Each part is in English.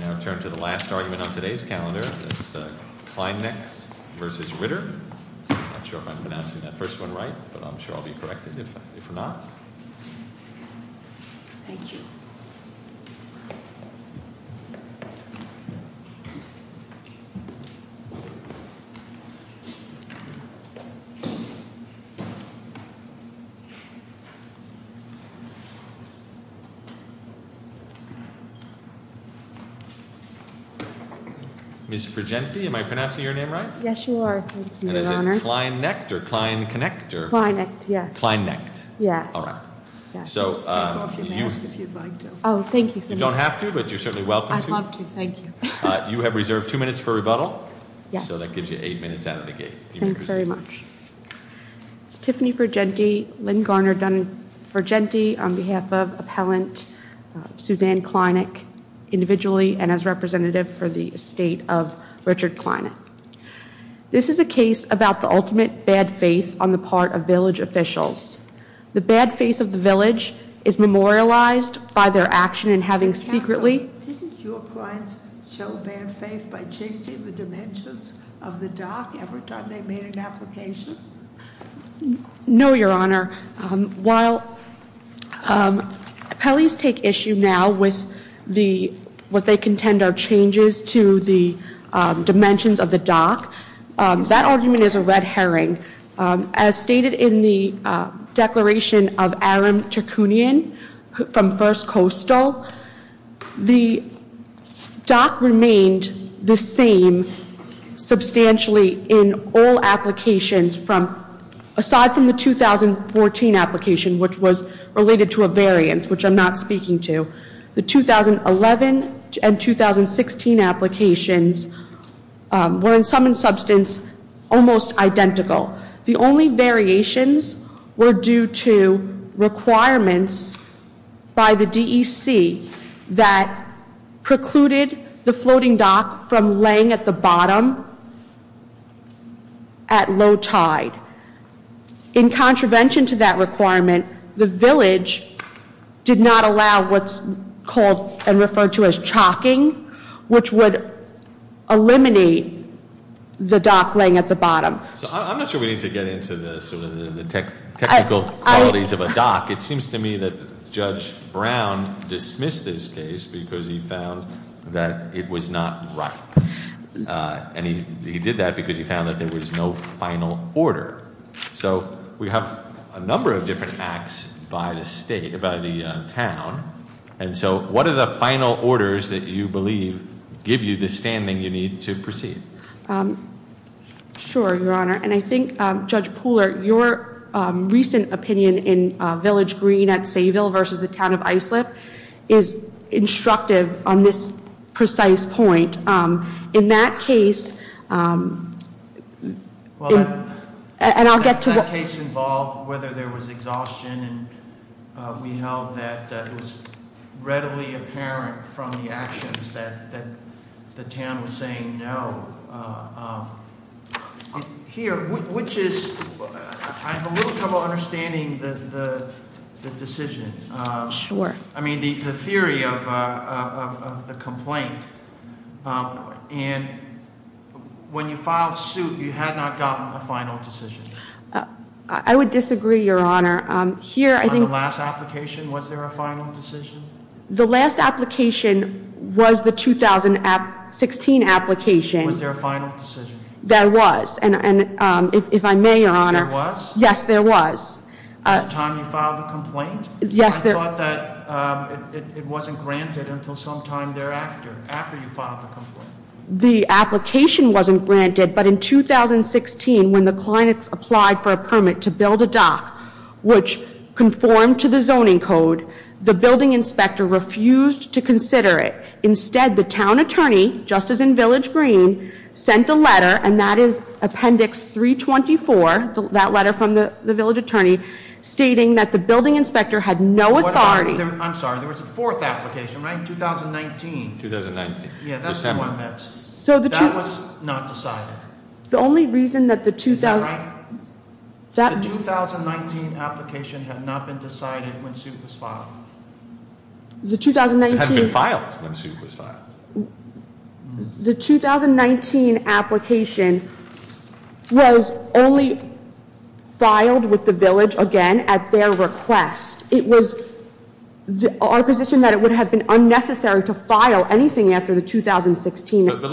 I'm not sure if I'm pronouncing that first one right, but I'm sure I'll be corrected if I'm not. Miss Virginity. Am I pronouncing your name, right? Yes, you are. Thank you, Your Honor. Klein nectar. Klein connector. Yes. Fine. Next. Yes. All right. So if you'd like to. Oh, thank you. You don't have to, but you're certainly welcome. Thank you. You have reserved two minutes for rebuttal. So that gives you eight minutes out of the gate. Thanks very much. Tiffany Virginity Lynn Garner done for Gentile on behalf of appellant Suzanne Kleineck individually and as representative for the state of Richard Kleineck. This is a case about the ultimate bad faith on the part of village officials. The bad face of the village is memorialized by their action and having secretly. Didn't your clients show bad faith by changing the dimensions of the dock every time they made an application? No, Your Honor. While Pelley's take issue now with the what they contend are changes to the dimensions of the dock. That argument is a red herring, as stated in the declaration of Aaron to Kuhnion from First Coastal. The dock remained the same substantially in all applications from aside from the 2014 application, which was related to a variant, which I'm not speaking to. The 2011 and 2016 applications were in some substance almost identical. The only variations were due to requirements by the D.C. that precluded the floating dock from laying at the bottom. At low tide. In contravention to that requirement, the village did not allow what's called and referred to as chalking, which would eliminate the dock laying at the bottom. I'm not sure we need to get into the technical qualities of a dock. It seems to me that Judge Brown dismissed this case because he found that it was not right. And he did that because he found that there was no final order. So we have a number of different acts by the state, by the town. And so what are the final orders that you believe give you the standing you need to proceed? Sure, Your Honor. And I think, Judge Pooler, your recent opinion in Village Green at Sayville versus the town of Islip is instructive on this precise point. In that case, and I'll get to- Well, that case involved whether there was exhaustion. And we know that it was readily apparent from the actions that the town was saying no. Here, which is, I have a little trouble understanding the decision. Sure. I mean, the theory of the complaint. And when you filed suit, you had not gotten a final decision. I would disagree, Your Honor. Here, I think- On the last application, was there a final decision? The last application was the 2016 application. Was there a final decision? There was. And if I may, Your Honor- There was? Yes, there was. At the time you filed the complaint? Yes, there- I thought that it wasn't granted until sometime thereafter, after you filed the complaint. The application wasn't granted. But in 2016, when the client applied for a permit to build a dock, which conformed to the zoning code, the building inspector refused to consider it. Instead, the town attorney, just as in Village Green, sent a letter, and that is Appendix 324, that letter from the village attorney, stating that the building inspector had no authority- I'm sorry, there was a fourth application, right? 2019. 2019. Yeah, that's the one that- That was not decided. The only reason that the- Is that right? The 2019 application had not been decided when suit was filed. The 2019- It was filed when suit was filed. The 2019 application was only filed with the village, again, at their request. It was our position that it would have been unnecessary to file anything after the 2016- To build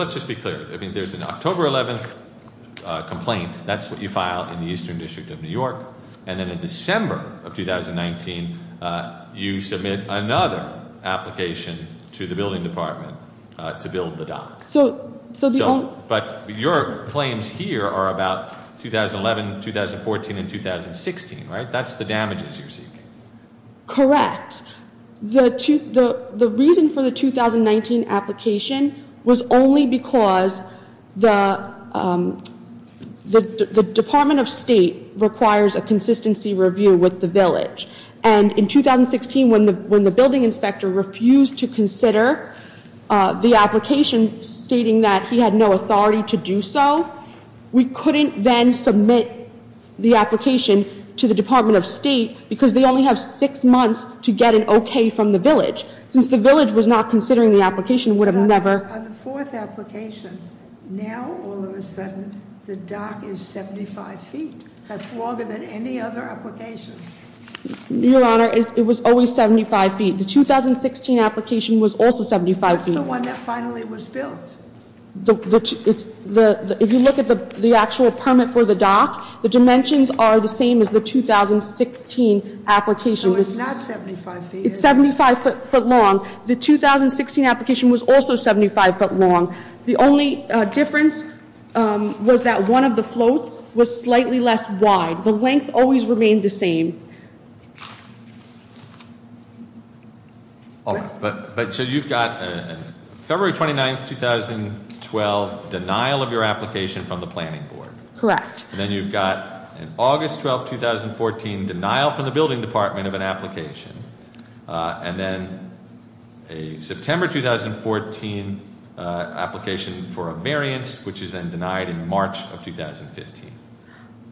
the dock. But your claims here are about 2011, 2014, and 2016, right? That's the damages you're seeking. Correct. The reason for the 2019 application was only because the Department of State requires a consistency review with the village. And in 2016, when the building inspector refused to consider the application stating that he had no authority to do so, we couldn't then submit the application to the Department of State because they only have six months to get an okay from the village. Since the village was not considering the application, it would have never- On the fourth application, now, all of a sudden, the dock is 75 feet. That's longer than any other application. Your Honor, it was always 75 feet. The 2016 application was also 75 feet. That's the one that finally was built. If you look at the actual permit for the dock, the dimensions are the same as the 2016 application. So it's not 75 feet. It's 75 foot long. The 2016 application was also 75 foot long. The only difference was that one of the floats was slightly less wide. The length always remained the same. But so you've got February 29, 2012, denial of your application from the planning board. Correct. And then you've got August 12, 2014, denial from the building department of an application. And then a September 2014 application for a variance, which is then denied in March of 2015.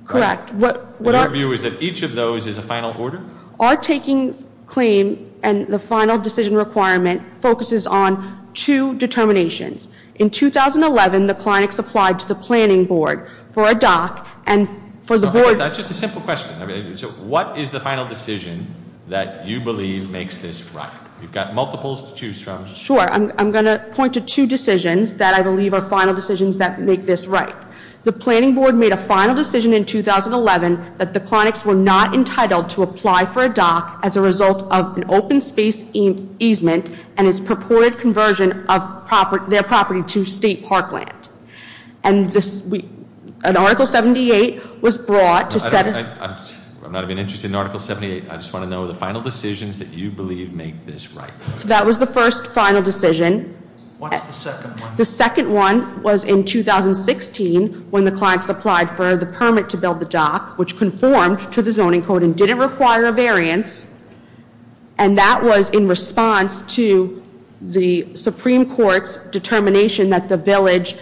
Correct. What our view is that each of those is a final order? Our taking claim and the final decision requirement focuses on two determinations. In 2011, the clinics applied to the planning board for a dock and for the board- That's just a simple question. So what is the final decision that you believe makes this right? You've got multiples to choose from. Sure. I'm going to point to two decisions that I believe are final decisions that make this right. The planning board made a final decision in 2011 that the clinics were not entitled to apply for a dock as a result of an open space easement and its purported conversion of their property to state parkland. And an article 78 was brought- I'm not even interested in article 78. I just want to know the final decisions that you believe make this right. So that was the first final decision. What's the second one? The second one was in 2016 when the clinics applied for the permit to build the dock, which conformed to the zoning code and didn't require a variance. And that was in response to the Supreme Court's determination that the village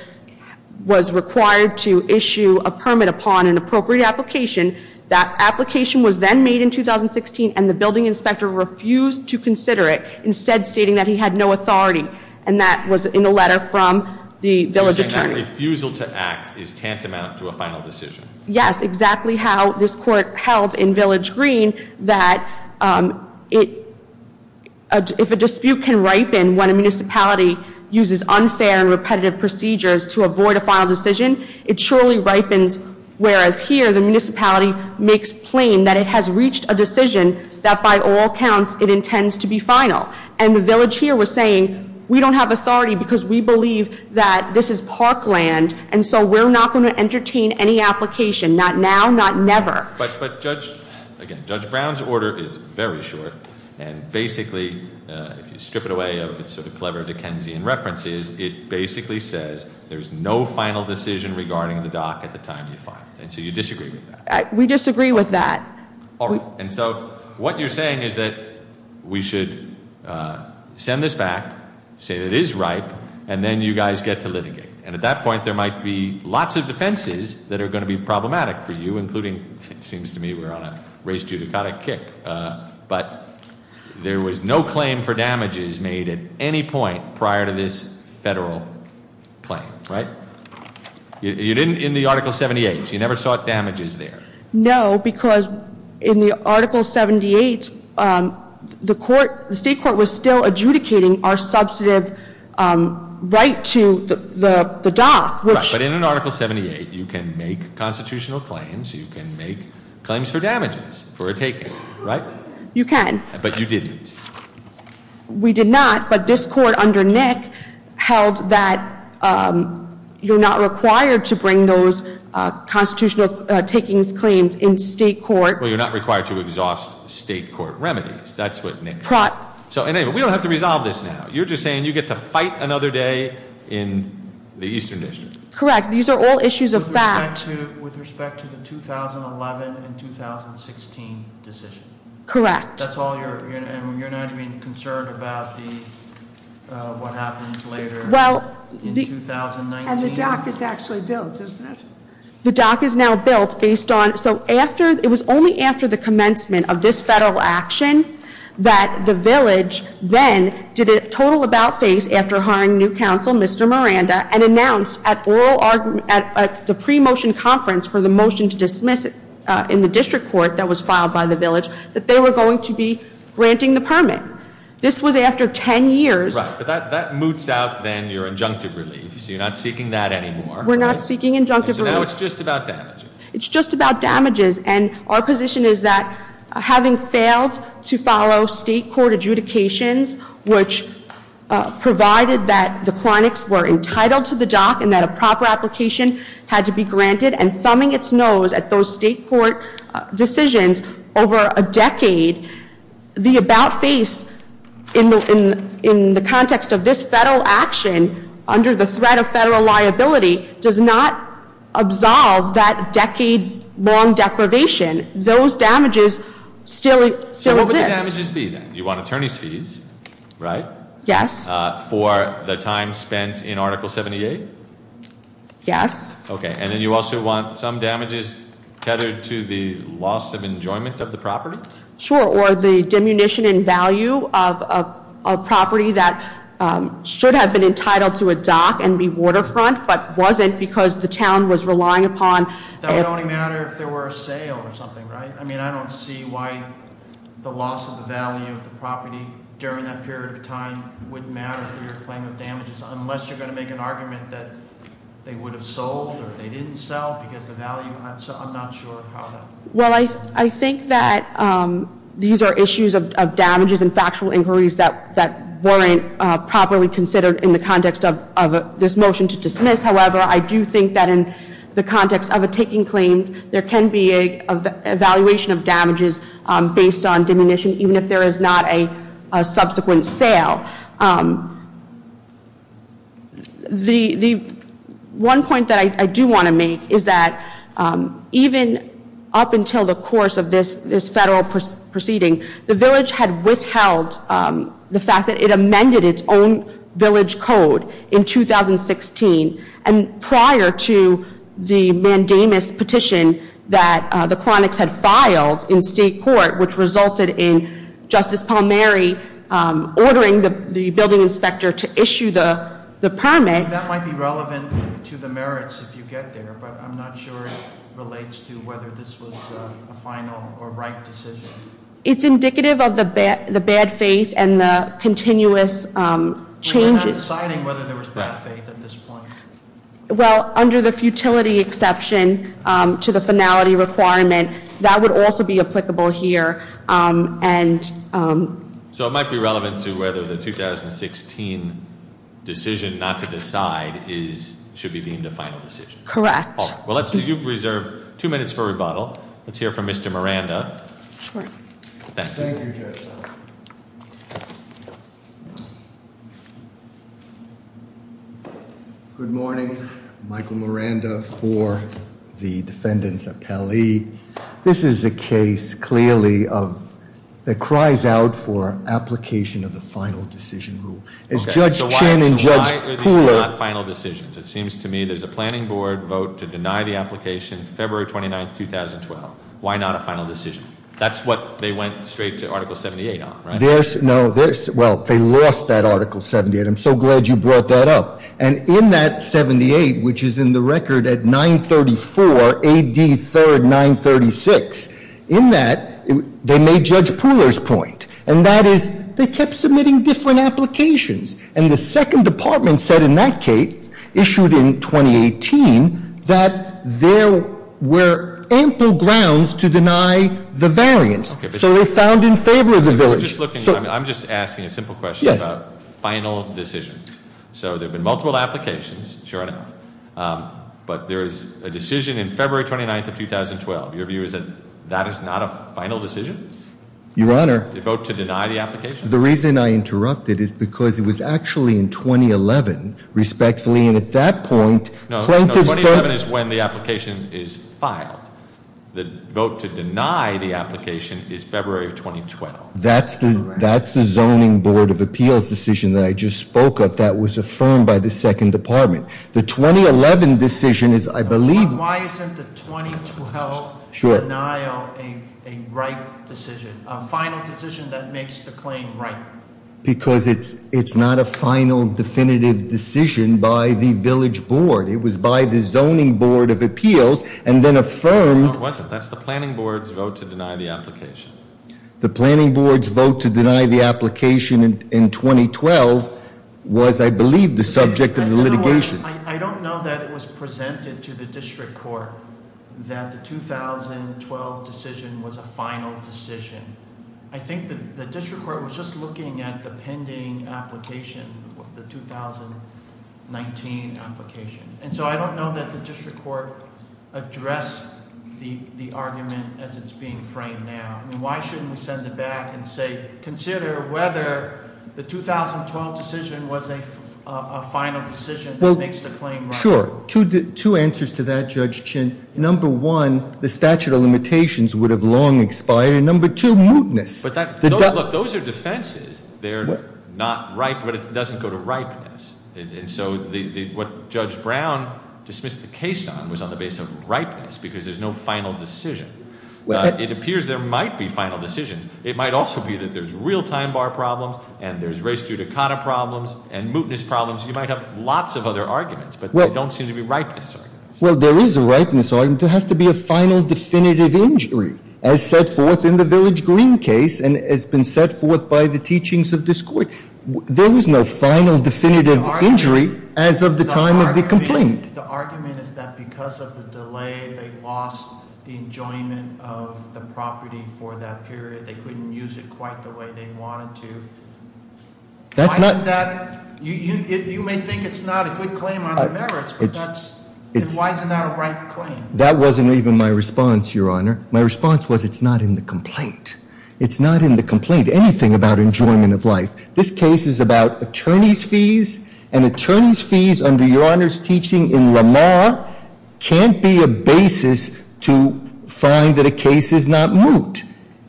was required to issue a permit upon an appropriate application. That application was then made in 2016 and the building inspector refused to consider it, instead stating that he had no authority. And that was in a letter from the village attorney. You're saying that refusal to act is tantamount to a final decision. Yes, exactly how this court held in Village Green that if a dispute can ripen when a municipality uses unfair and repetitive procedures to avoid a final decision, it surely ripens. Whereas here, the municipality makes plain that it has reached a decision that by all counts it intends to be final. And the village here was saying, we don't have authority because we believe that this is parkland, and so we're not going to entertain any application. Not now, not never. But Judge, again, Judge Brown's order is very short. And basically, if you strip it away of its sort of clever Dickensian references, it basically says there's no final decision regarding the dock at the time you file it. And so you disagree with that? We disagree with that. All right. And so what you're saying is that we should send this back, say that it is ripe, and then you guys get to litigate. And at that point, there might be lots of defenses that are going to be problematic for you, including it seems to me we're on a race judicata kick. But there was no claim for damages made at any point prior to this federal claim, right? You didn't in the Article 78. You never sought damages there. No, because in the Article 78, the state court was still adjudicating our substantive right to the dock. Right, but in an Article 78, you can make constitutional claims. You can make claims for damages for a taking, right? You can. But you didn't. We did not. But this court under Nick held that you're not required to bring those constitutional takings claims in state court. Well, you're not required to exhaust state court remedies. That's what Nick said. And anyway, we don't have to resolve this now. You're just saying you get to fight another day in the Eastern District. Correct. These are all issues of fact. With respect to the 2011 and 2016 decision. Correct. That's all you're, you're not even concerned about the, what happens later in 2019? And the dock is actually built, isn't it? The dock is now built based on, so after, it was only after the commencement of this federal action, that the village then did a total about-face after hiring new counsel, Mr. Miranda, and announced at the pre-motion conference for the motion to dismiss it in the district court that was filed by the village, that they were going to be granting the permit. This was after 10 years. Right. But that moots out then your injunctive relief. So you're not seeking that anymore. We're not seeking injunctive relief. So now it's just about damages. It's just about damages. And our position is that having failed to follow state court adjudications, and thumbing its nose at those state court decisions over a decade, the about-face in the context of this federal action, under the threat of federal liability, does not absolve that decade-long deprivation. Those damages still exist. So what would the damages be then? You want attorney's fees, right? Yes. For the time spent in Article 78? Yes. Okay. And then you also want some damages tethered to the loss of enjoyment of the property? Sure. Or the diminution in value of a property that should have been entitled to a dock and be waterfront, but wasn't because the town was relying upon- That would only matter if there were a sale or something, right? I mean, I don't see why the loss of the value of the property during that period of time wouldn't matter for your claim of damages, unless you're going to make an argument that they would have sold or they didn't sell because the value- I'm not sure how that- Well, I think that these are issues of damages and factual inquiries that weren't properly considered in the context of this motion to dismiss. However, I do think that in the context of a taking claim, there can be an evaluation of damages based on diminution, even if there is not a subsequent sale. The one point that I do want to make is that even up until the course of this federal proceeding, the village had withheld the fact that it amended its own village code in 2016. And prior to the mandamus petition that the Clonics had filed in state court, which resulted in Justice Palmieri ordering the building inspector to issue the permit- I mean, that might be relevant to the merits if you get there, but I'm not sure it relates to whether this was a final or right decision. It's indicative of the bad faith and the continuous changes- Well, under the futility exception to the finality requirement, that would also be applicable here. So it might be relevant to whether the 2016 decision not to decide should be deemed a final decision. Correct. Well, you've reserved two minutes for rebuttal. Let's hear from Mr. Miranda. Sure. Thank you. Thank you, Judge. Thank you. Good morning. Michael Miranda for the defendants' appellee. This is a case clearly of- that cries out for application of the final decision rule. As Judge Chin and Judge Cooler- So why are these not final decisions? It seems to me there's a planning board vote to deny the application February 29, 2012. Why not a final decision? That's what they went straight to Article 78 on, right? No. Well, they lost that Article 78. I'm so glad you brought that up. And in that 78, which is in the record at 934 AD 3rd 936, in that they made Judge Pooler's point. And that is they kept submitting different applications. And the second department said in that case, issued in 2018, that there were ample grounds to deny the variance. So they found in favor of the village. I'm just asking a simple question about final decisions. So there have been multiple applications, sure enough. But there is a decision in February 29, 2012. Your view is that that is not a final decision? Your Honor- They vote to deny the application? The reason I interrupted is because it was actually in 2011, respectfully. And at that point- No, 2011 is when the application is filed. The vote to deny the application is February of 2012. That's the zoning board of appeals decision that I just spoke of that was affirmed by the second department. The 2011 decision is, I believe- Why isn't the 2012 denial a right decision? A final decision that makes the claim right? Because it's not a final definitive decision by the village board. It was by the zoning board of appeals and then affirmed- No, it wasn't. That's the planning board's vote to deny the application. The planning board's vote to deny the application in 2012 was, I believe, the subject of the litigation. I don't know that it was presented to the district court that the 2012 decision was a final decision. I think the district court was just looking at the pending application, the 2019 application. And so I don't know that the district court addressed the argument as it's being framed now. Why shouldn't we send it back and say, consider whether the 2012 decision was a final decision that makes the claim right? Sure. Two answers to that, Judge Chin. Number one, the statute of limitations would have long expired. And number two, mootness. Look, those are defenses. They're not ripe, but it doesn't go to ripeness. And so what Judge Brown dismissed the case on was on the basis of ripeness because there's no final decision. It appears there might be final decisions. It might also be that there's real time bar problems, and there's race to Dakota problems, and mootness problems. You might have lots of other arguments, but they don't seem to be ripeness arguments. Well, there is a ripeness argument. There has to be a final definitive injury as set forth in the Village Green case and has been set forth by the teachings of this court. There was no final definitive injury as of the time of the complaint. The argument is that because of the delay, they lost the enjoyment of the property for that period. They couldn't use it quite the way they wanted to. Why isn't that? You may think it's not a good claim on the merits, but why isn't that a right claim? That wasn't even my response, Your Honor. My response was it's not in the complaint. It's not in the complaint, anything about enjoyment of life. This case is about attorney's fees, and attorney's fees under Your Honor's teaching in Lamar can't be a basis to find that a case is not moot.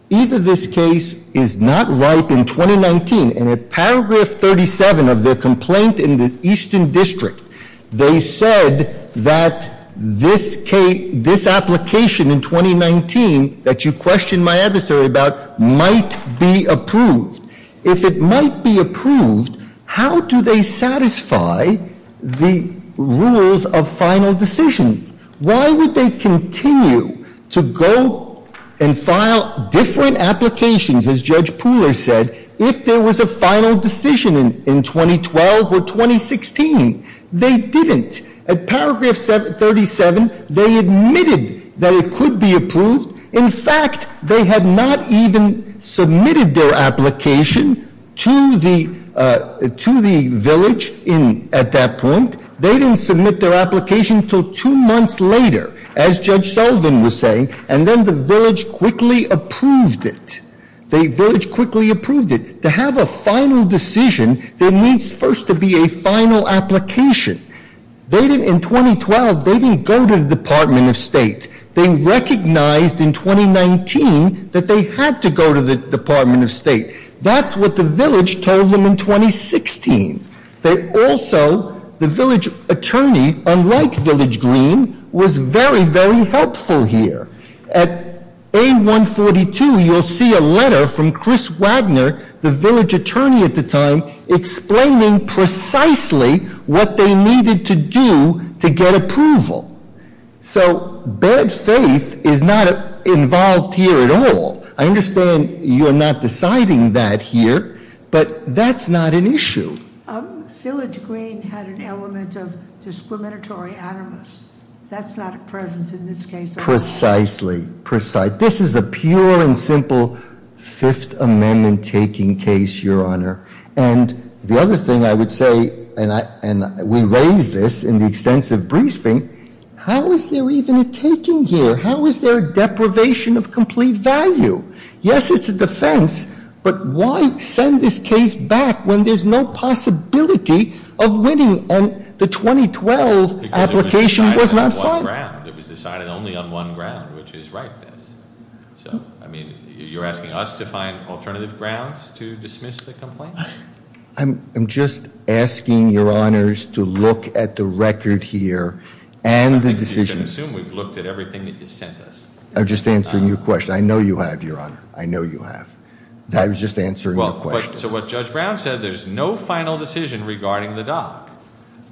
Either this case is not ripe in 2019, and in paragraph 37 of their complaint in the Eastern District, they said that this application in 2019 that you questioned my adversary about might be approved. If it might be approved, how do they satisfy the rules of final decision? Why would they continue to go and file different applications, as Judge Pooler said, if there was a final decision in 2012 or 2016? They didn't. At paragraph 37, they admitted that it could be approved. In fact, they had not even submitted their application to the village at that point. They didn't submit their application until two months later, as Judge Sullivan was saying, and then the village quickly approved it. The village quickly approved it. To have a final decision, there needs first to be a final application. In 2012, they didn't go to the Department of State. They recognized in 2019 that they had to go to the Department of State. That's what the village told them in 2016. They also, the village attorney, unlike Village Green, was very, very helpful here. At AIM 142, you'll see a letter from Chris Wagner, the village attorney at the time, explaining precisely what they needed to do to get approval. So bad faith is not involved here at all. I understand you're not deciding that here, but that's not an issue. Village Green had an element of discriminatory animus. That's not present in this case. Precisely. Precise. This is a pure and simple Fifth Amendment-taking case, Your Honor. And the other thing I would say, and we raised this in the extensive briefing, how is there even a taking here? How is there a deprivation of complete value? Yes, it's a defense, but why send this case back when there's no possibility of winning? And the 2012 application was not filed. Because it was decided on one ground. It was decided only on one ground, which is rightness. So, I mean, you're asking us to find alternative grounds to dismiss the complaint? I'm just asking Your Honors to look at the record here and the decision. I think you can assume we've looked at everything that you sent us. I'm just answering your question. I know you have, Your Honor. I know you have. I was just answering your question. So what Judge Brown said, there's no final decision regarding the dock.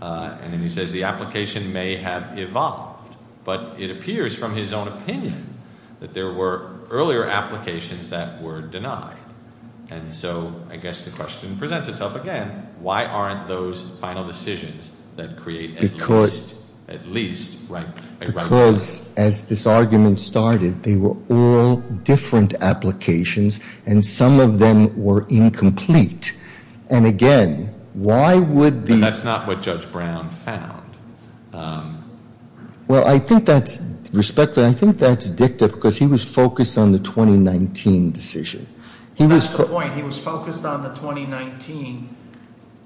And then he says the application may have evolved. But it appears, from his own opinion, that there were earlier applications that were denied. And so I guess the question presents itself again. Why aren't those final decisions that create at least a remedy? Because as this argument started, they were all different applications. And some of them were incomplete. And, again, why would the— But that's not what Judge Brown found. Well, I think that's respected. I think that's addictive because he was focused on the 2019 decision. He was— That's the point. He was focused on the 2019.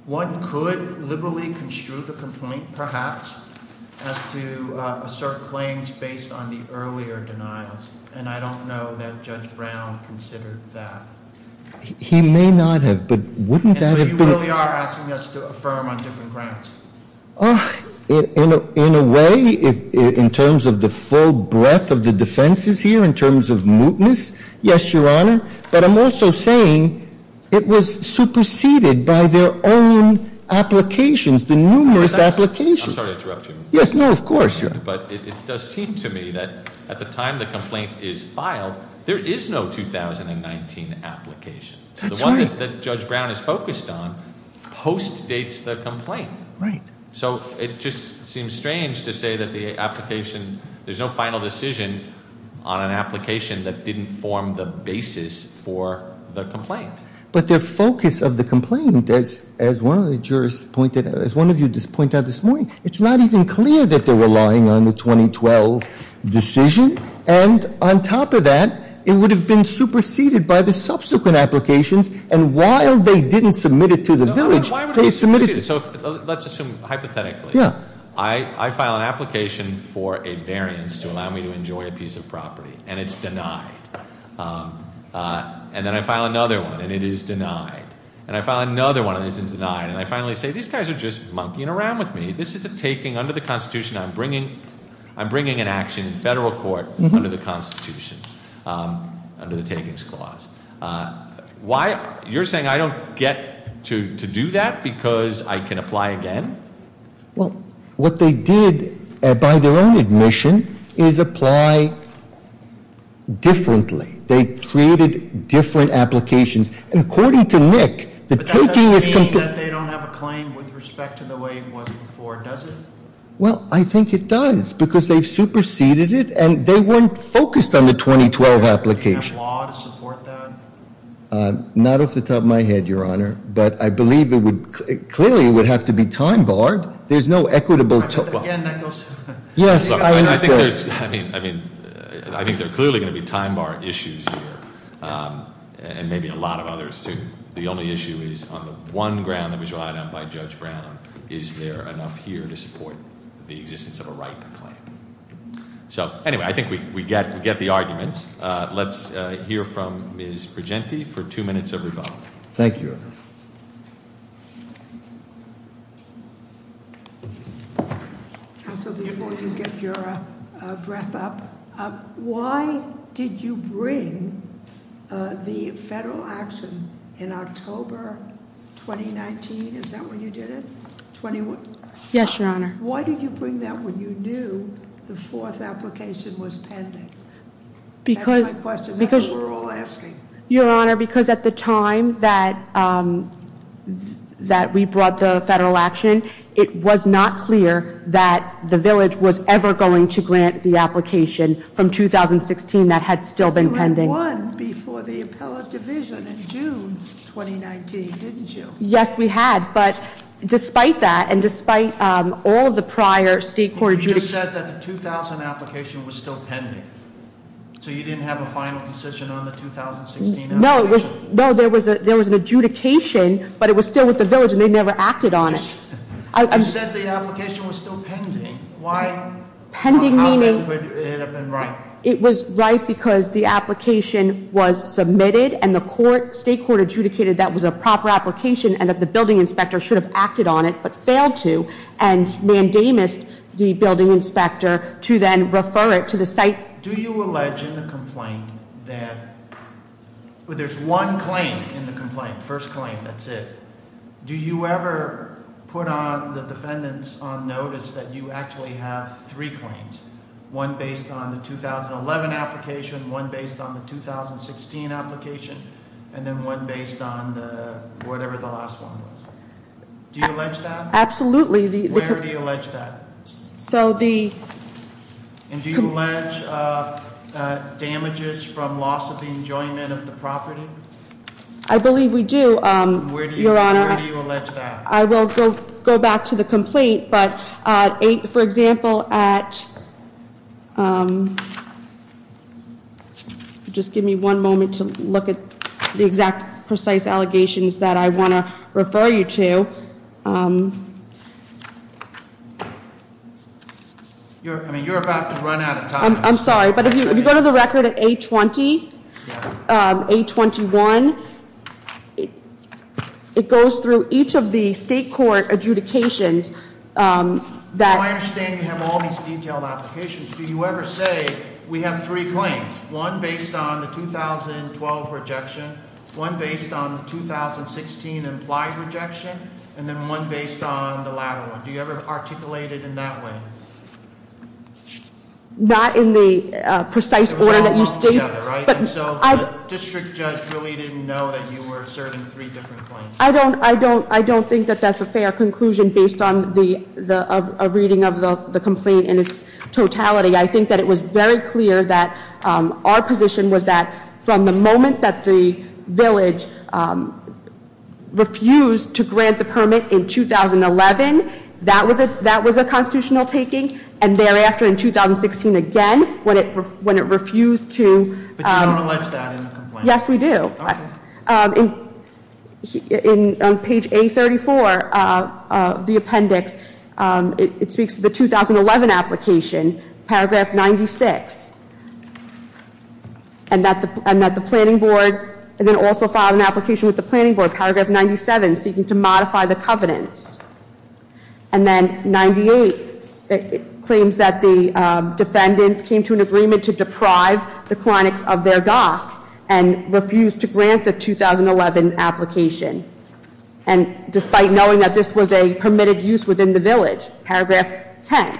One could liberally construe the complaint, perhaps, as to assert claims based on the earlier denials. And I don't know that Judge Brown considered that. He may not have, but wouldn't that have been— And so you really are asking us to affirm on different grounds. In a way, in terms of the full breadth of the defenses here, in terms of mootness, yes, Your Honor. But I'm also saying it was superseded by their own applications, the numerous applications. I'm sorry to interrupt you. Yes, no, of course, Your Honor. But it does seem to me that at the time the complaint is filed, there is no 2019 application. That's right. The one that Judge Brown is focused on post-dates the complaint. Right. So it just seems strange to say that the application—there's no final decision on an application that didn't form the basis for the complaint. But their focus of the complaint, as one of the jurors pointed out, as one of you just pointed out this morning, it's not even clear that they're relying on the 2012 decision. And on top of that, it would have been superseded by the subsequent applications. And while they didn't submit it to the village, they submitted— So let's assume hypothetically. Yeah. I file an application for a variance to allow me to enjoy a piece of property, and it's denied. And then I file another one, and it is denied. And I file another one, and it's denied. And I finally say, these guys are just monkeying around with me. This is a taking under the Constitution. I'm bringing an action in federal court under the Constitution, under the takings clause. Why—you're saying I don't get to do that because I can apply again? Well, what they did by their own admission is apply differently. They created different applications. And according to Nick, the taking is— But that doesn't mean that they don't have a claim with respect to the way it was before, does it? Well, I think it does because they've superseded it, and they weren't focused on the 2012 application. Do you have law to support that? Not off the top of my head, Your Honor. But I believe it would—clearly it would have to be time-barred. There's no equitable— Again, that goes— Yes. I think there's—I mean, I think there are clearly going to be time-bar issues here, and maybe a lot of others, too. The only issue is on the one ground that was relied on by Judge Brown, is there enough here to support the existence of a right to claim? So, anyway, I think we get the arguments. Let's hear from Ms. Brigenti for two minutes of rebuttal. Thank you, Your Honor. Counsel, before you give your breath up, why did you bring the federal action in October 2019? Is that when you did it? Yes, Your Honor. Why did you bring that when you knew the fourth application was pending? That's my question. That's what we're all asking. Your Honor, because at the time that we brought the federal action, it was not clear that the village was ever going to grant the application from 2016 that had still been pending. You had won before the appellate division in June 2019, didn't you? Yes, we had. But despite that, and despite all of the prior state court— You just said that the 2000 application was still pending, so you didn't have a final decision on the 2016 application? No, there was an adjudication, but it was still with the village, and they never acted on it. You said the application was still pending. Why? Pending meaning— How could it have been right? It was right because the application was submitted, and the state court adjudicated that was a proper application, and that the building inspector should have acted on it, but failed to, and mandamused the building inspector to then refer it to the site. Do you allege in the complaint that—well, there's one claim in the complaint, first claim, that's it. Do you ever put on the defendant's notice that you actually have three claims, one based on the 2011 application, one based on the 2016 application, and then one based on whatever the last one was? Do you allege that? Absolutely. Where do you allege that? So the— And do you allege damages from loss of the enjoyment of the property? I believe we do, Your Honor. Where do you allege that? I will go back to the complaint, but for example, at—just give me one moment to look at the exact precise allegations that I want to refer you to. I mean, you're about to run out of time. I'm sorry, but if you go to the record at A20, A21, it goes through each of the state court adjudications that— From what I understand, you have all these detailed applications. Do you ever say we have three claims, one based on the 2012 rejection, one based on the 2016 implied rejection, and then one based on the latter one? Do you ever articulate it in that way? Not in the precise order that you state— It was all lumped together, right? And so the district judge really didn't know that you were serving three different claims? I don't think that that's a fair conclusion based on a reading of the complaint in its totality. I think that it was very clear that our position was that from the moment that the village refused to grant the permit in 2011, that was a constitutional taking, and thereafter in 2016 again, when it refused to— But you don't allege that in the complaint? Yes, we do. Okay. In page A34 of the appendix, it speaks to the 2011 application, paragraph 96, and that the planning board then also filed an application with the planning board, paragraph 97, seeking to modify the covenants. And then 98, it claims that the defendants came to an agreement to deprive the clinics of their dock and refused to grant the 2011 application, and despite knowing that this was a permitted use within the village, paragraph 10.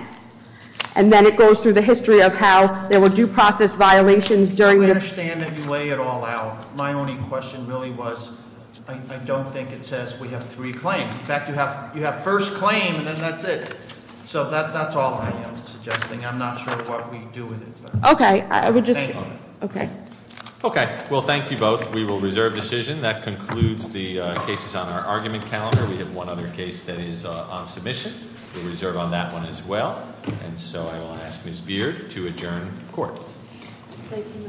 And then it goes through the history of how there were due process violations during the— I understand that you lay it all out. My only question really was, I don't think it says we have three claims. In fact, you have first claim, and then that's it. So that's all I am suggesting. I'm not sure what we do with it. Okay, I would just— Thank you. Okay. Okay, well, thank you both. We will reserve decision. That concludes the cases on our argument calendar. We have one other case that is on submission. We'll reserve on that one as well. And so I will ask Ms. Beard to adjourn court. Thank you, Mr. Chairman. Court is adjourned.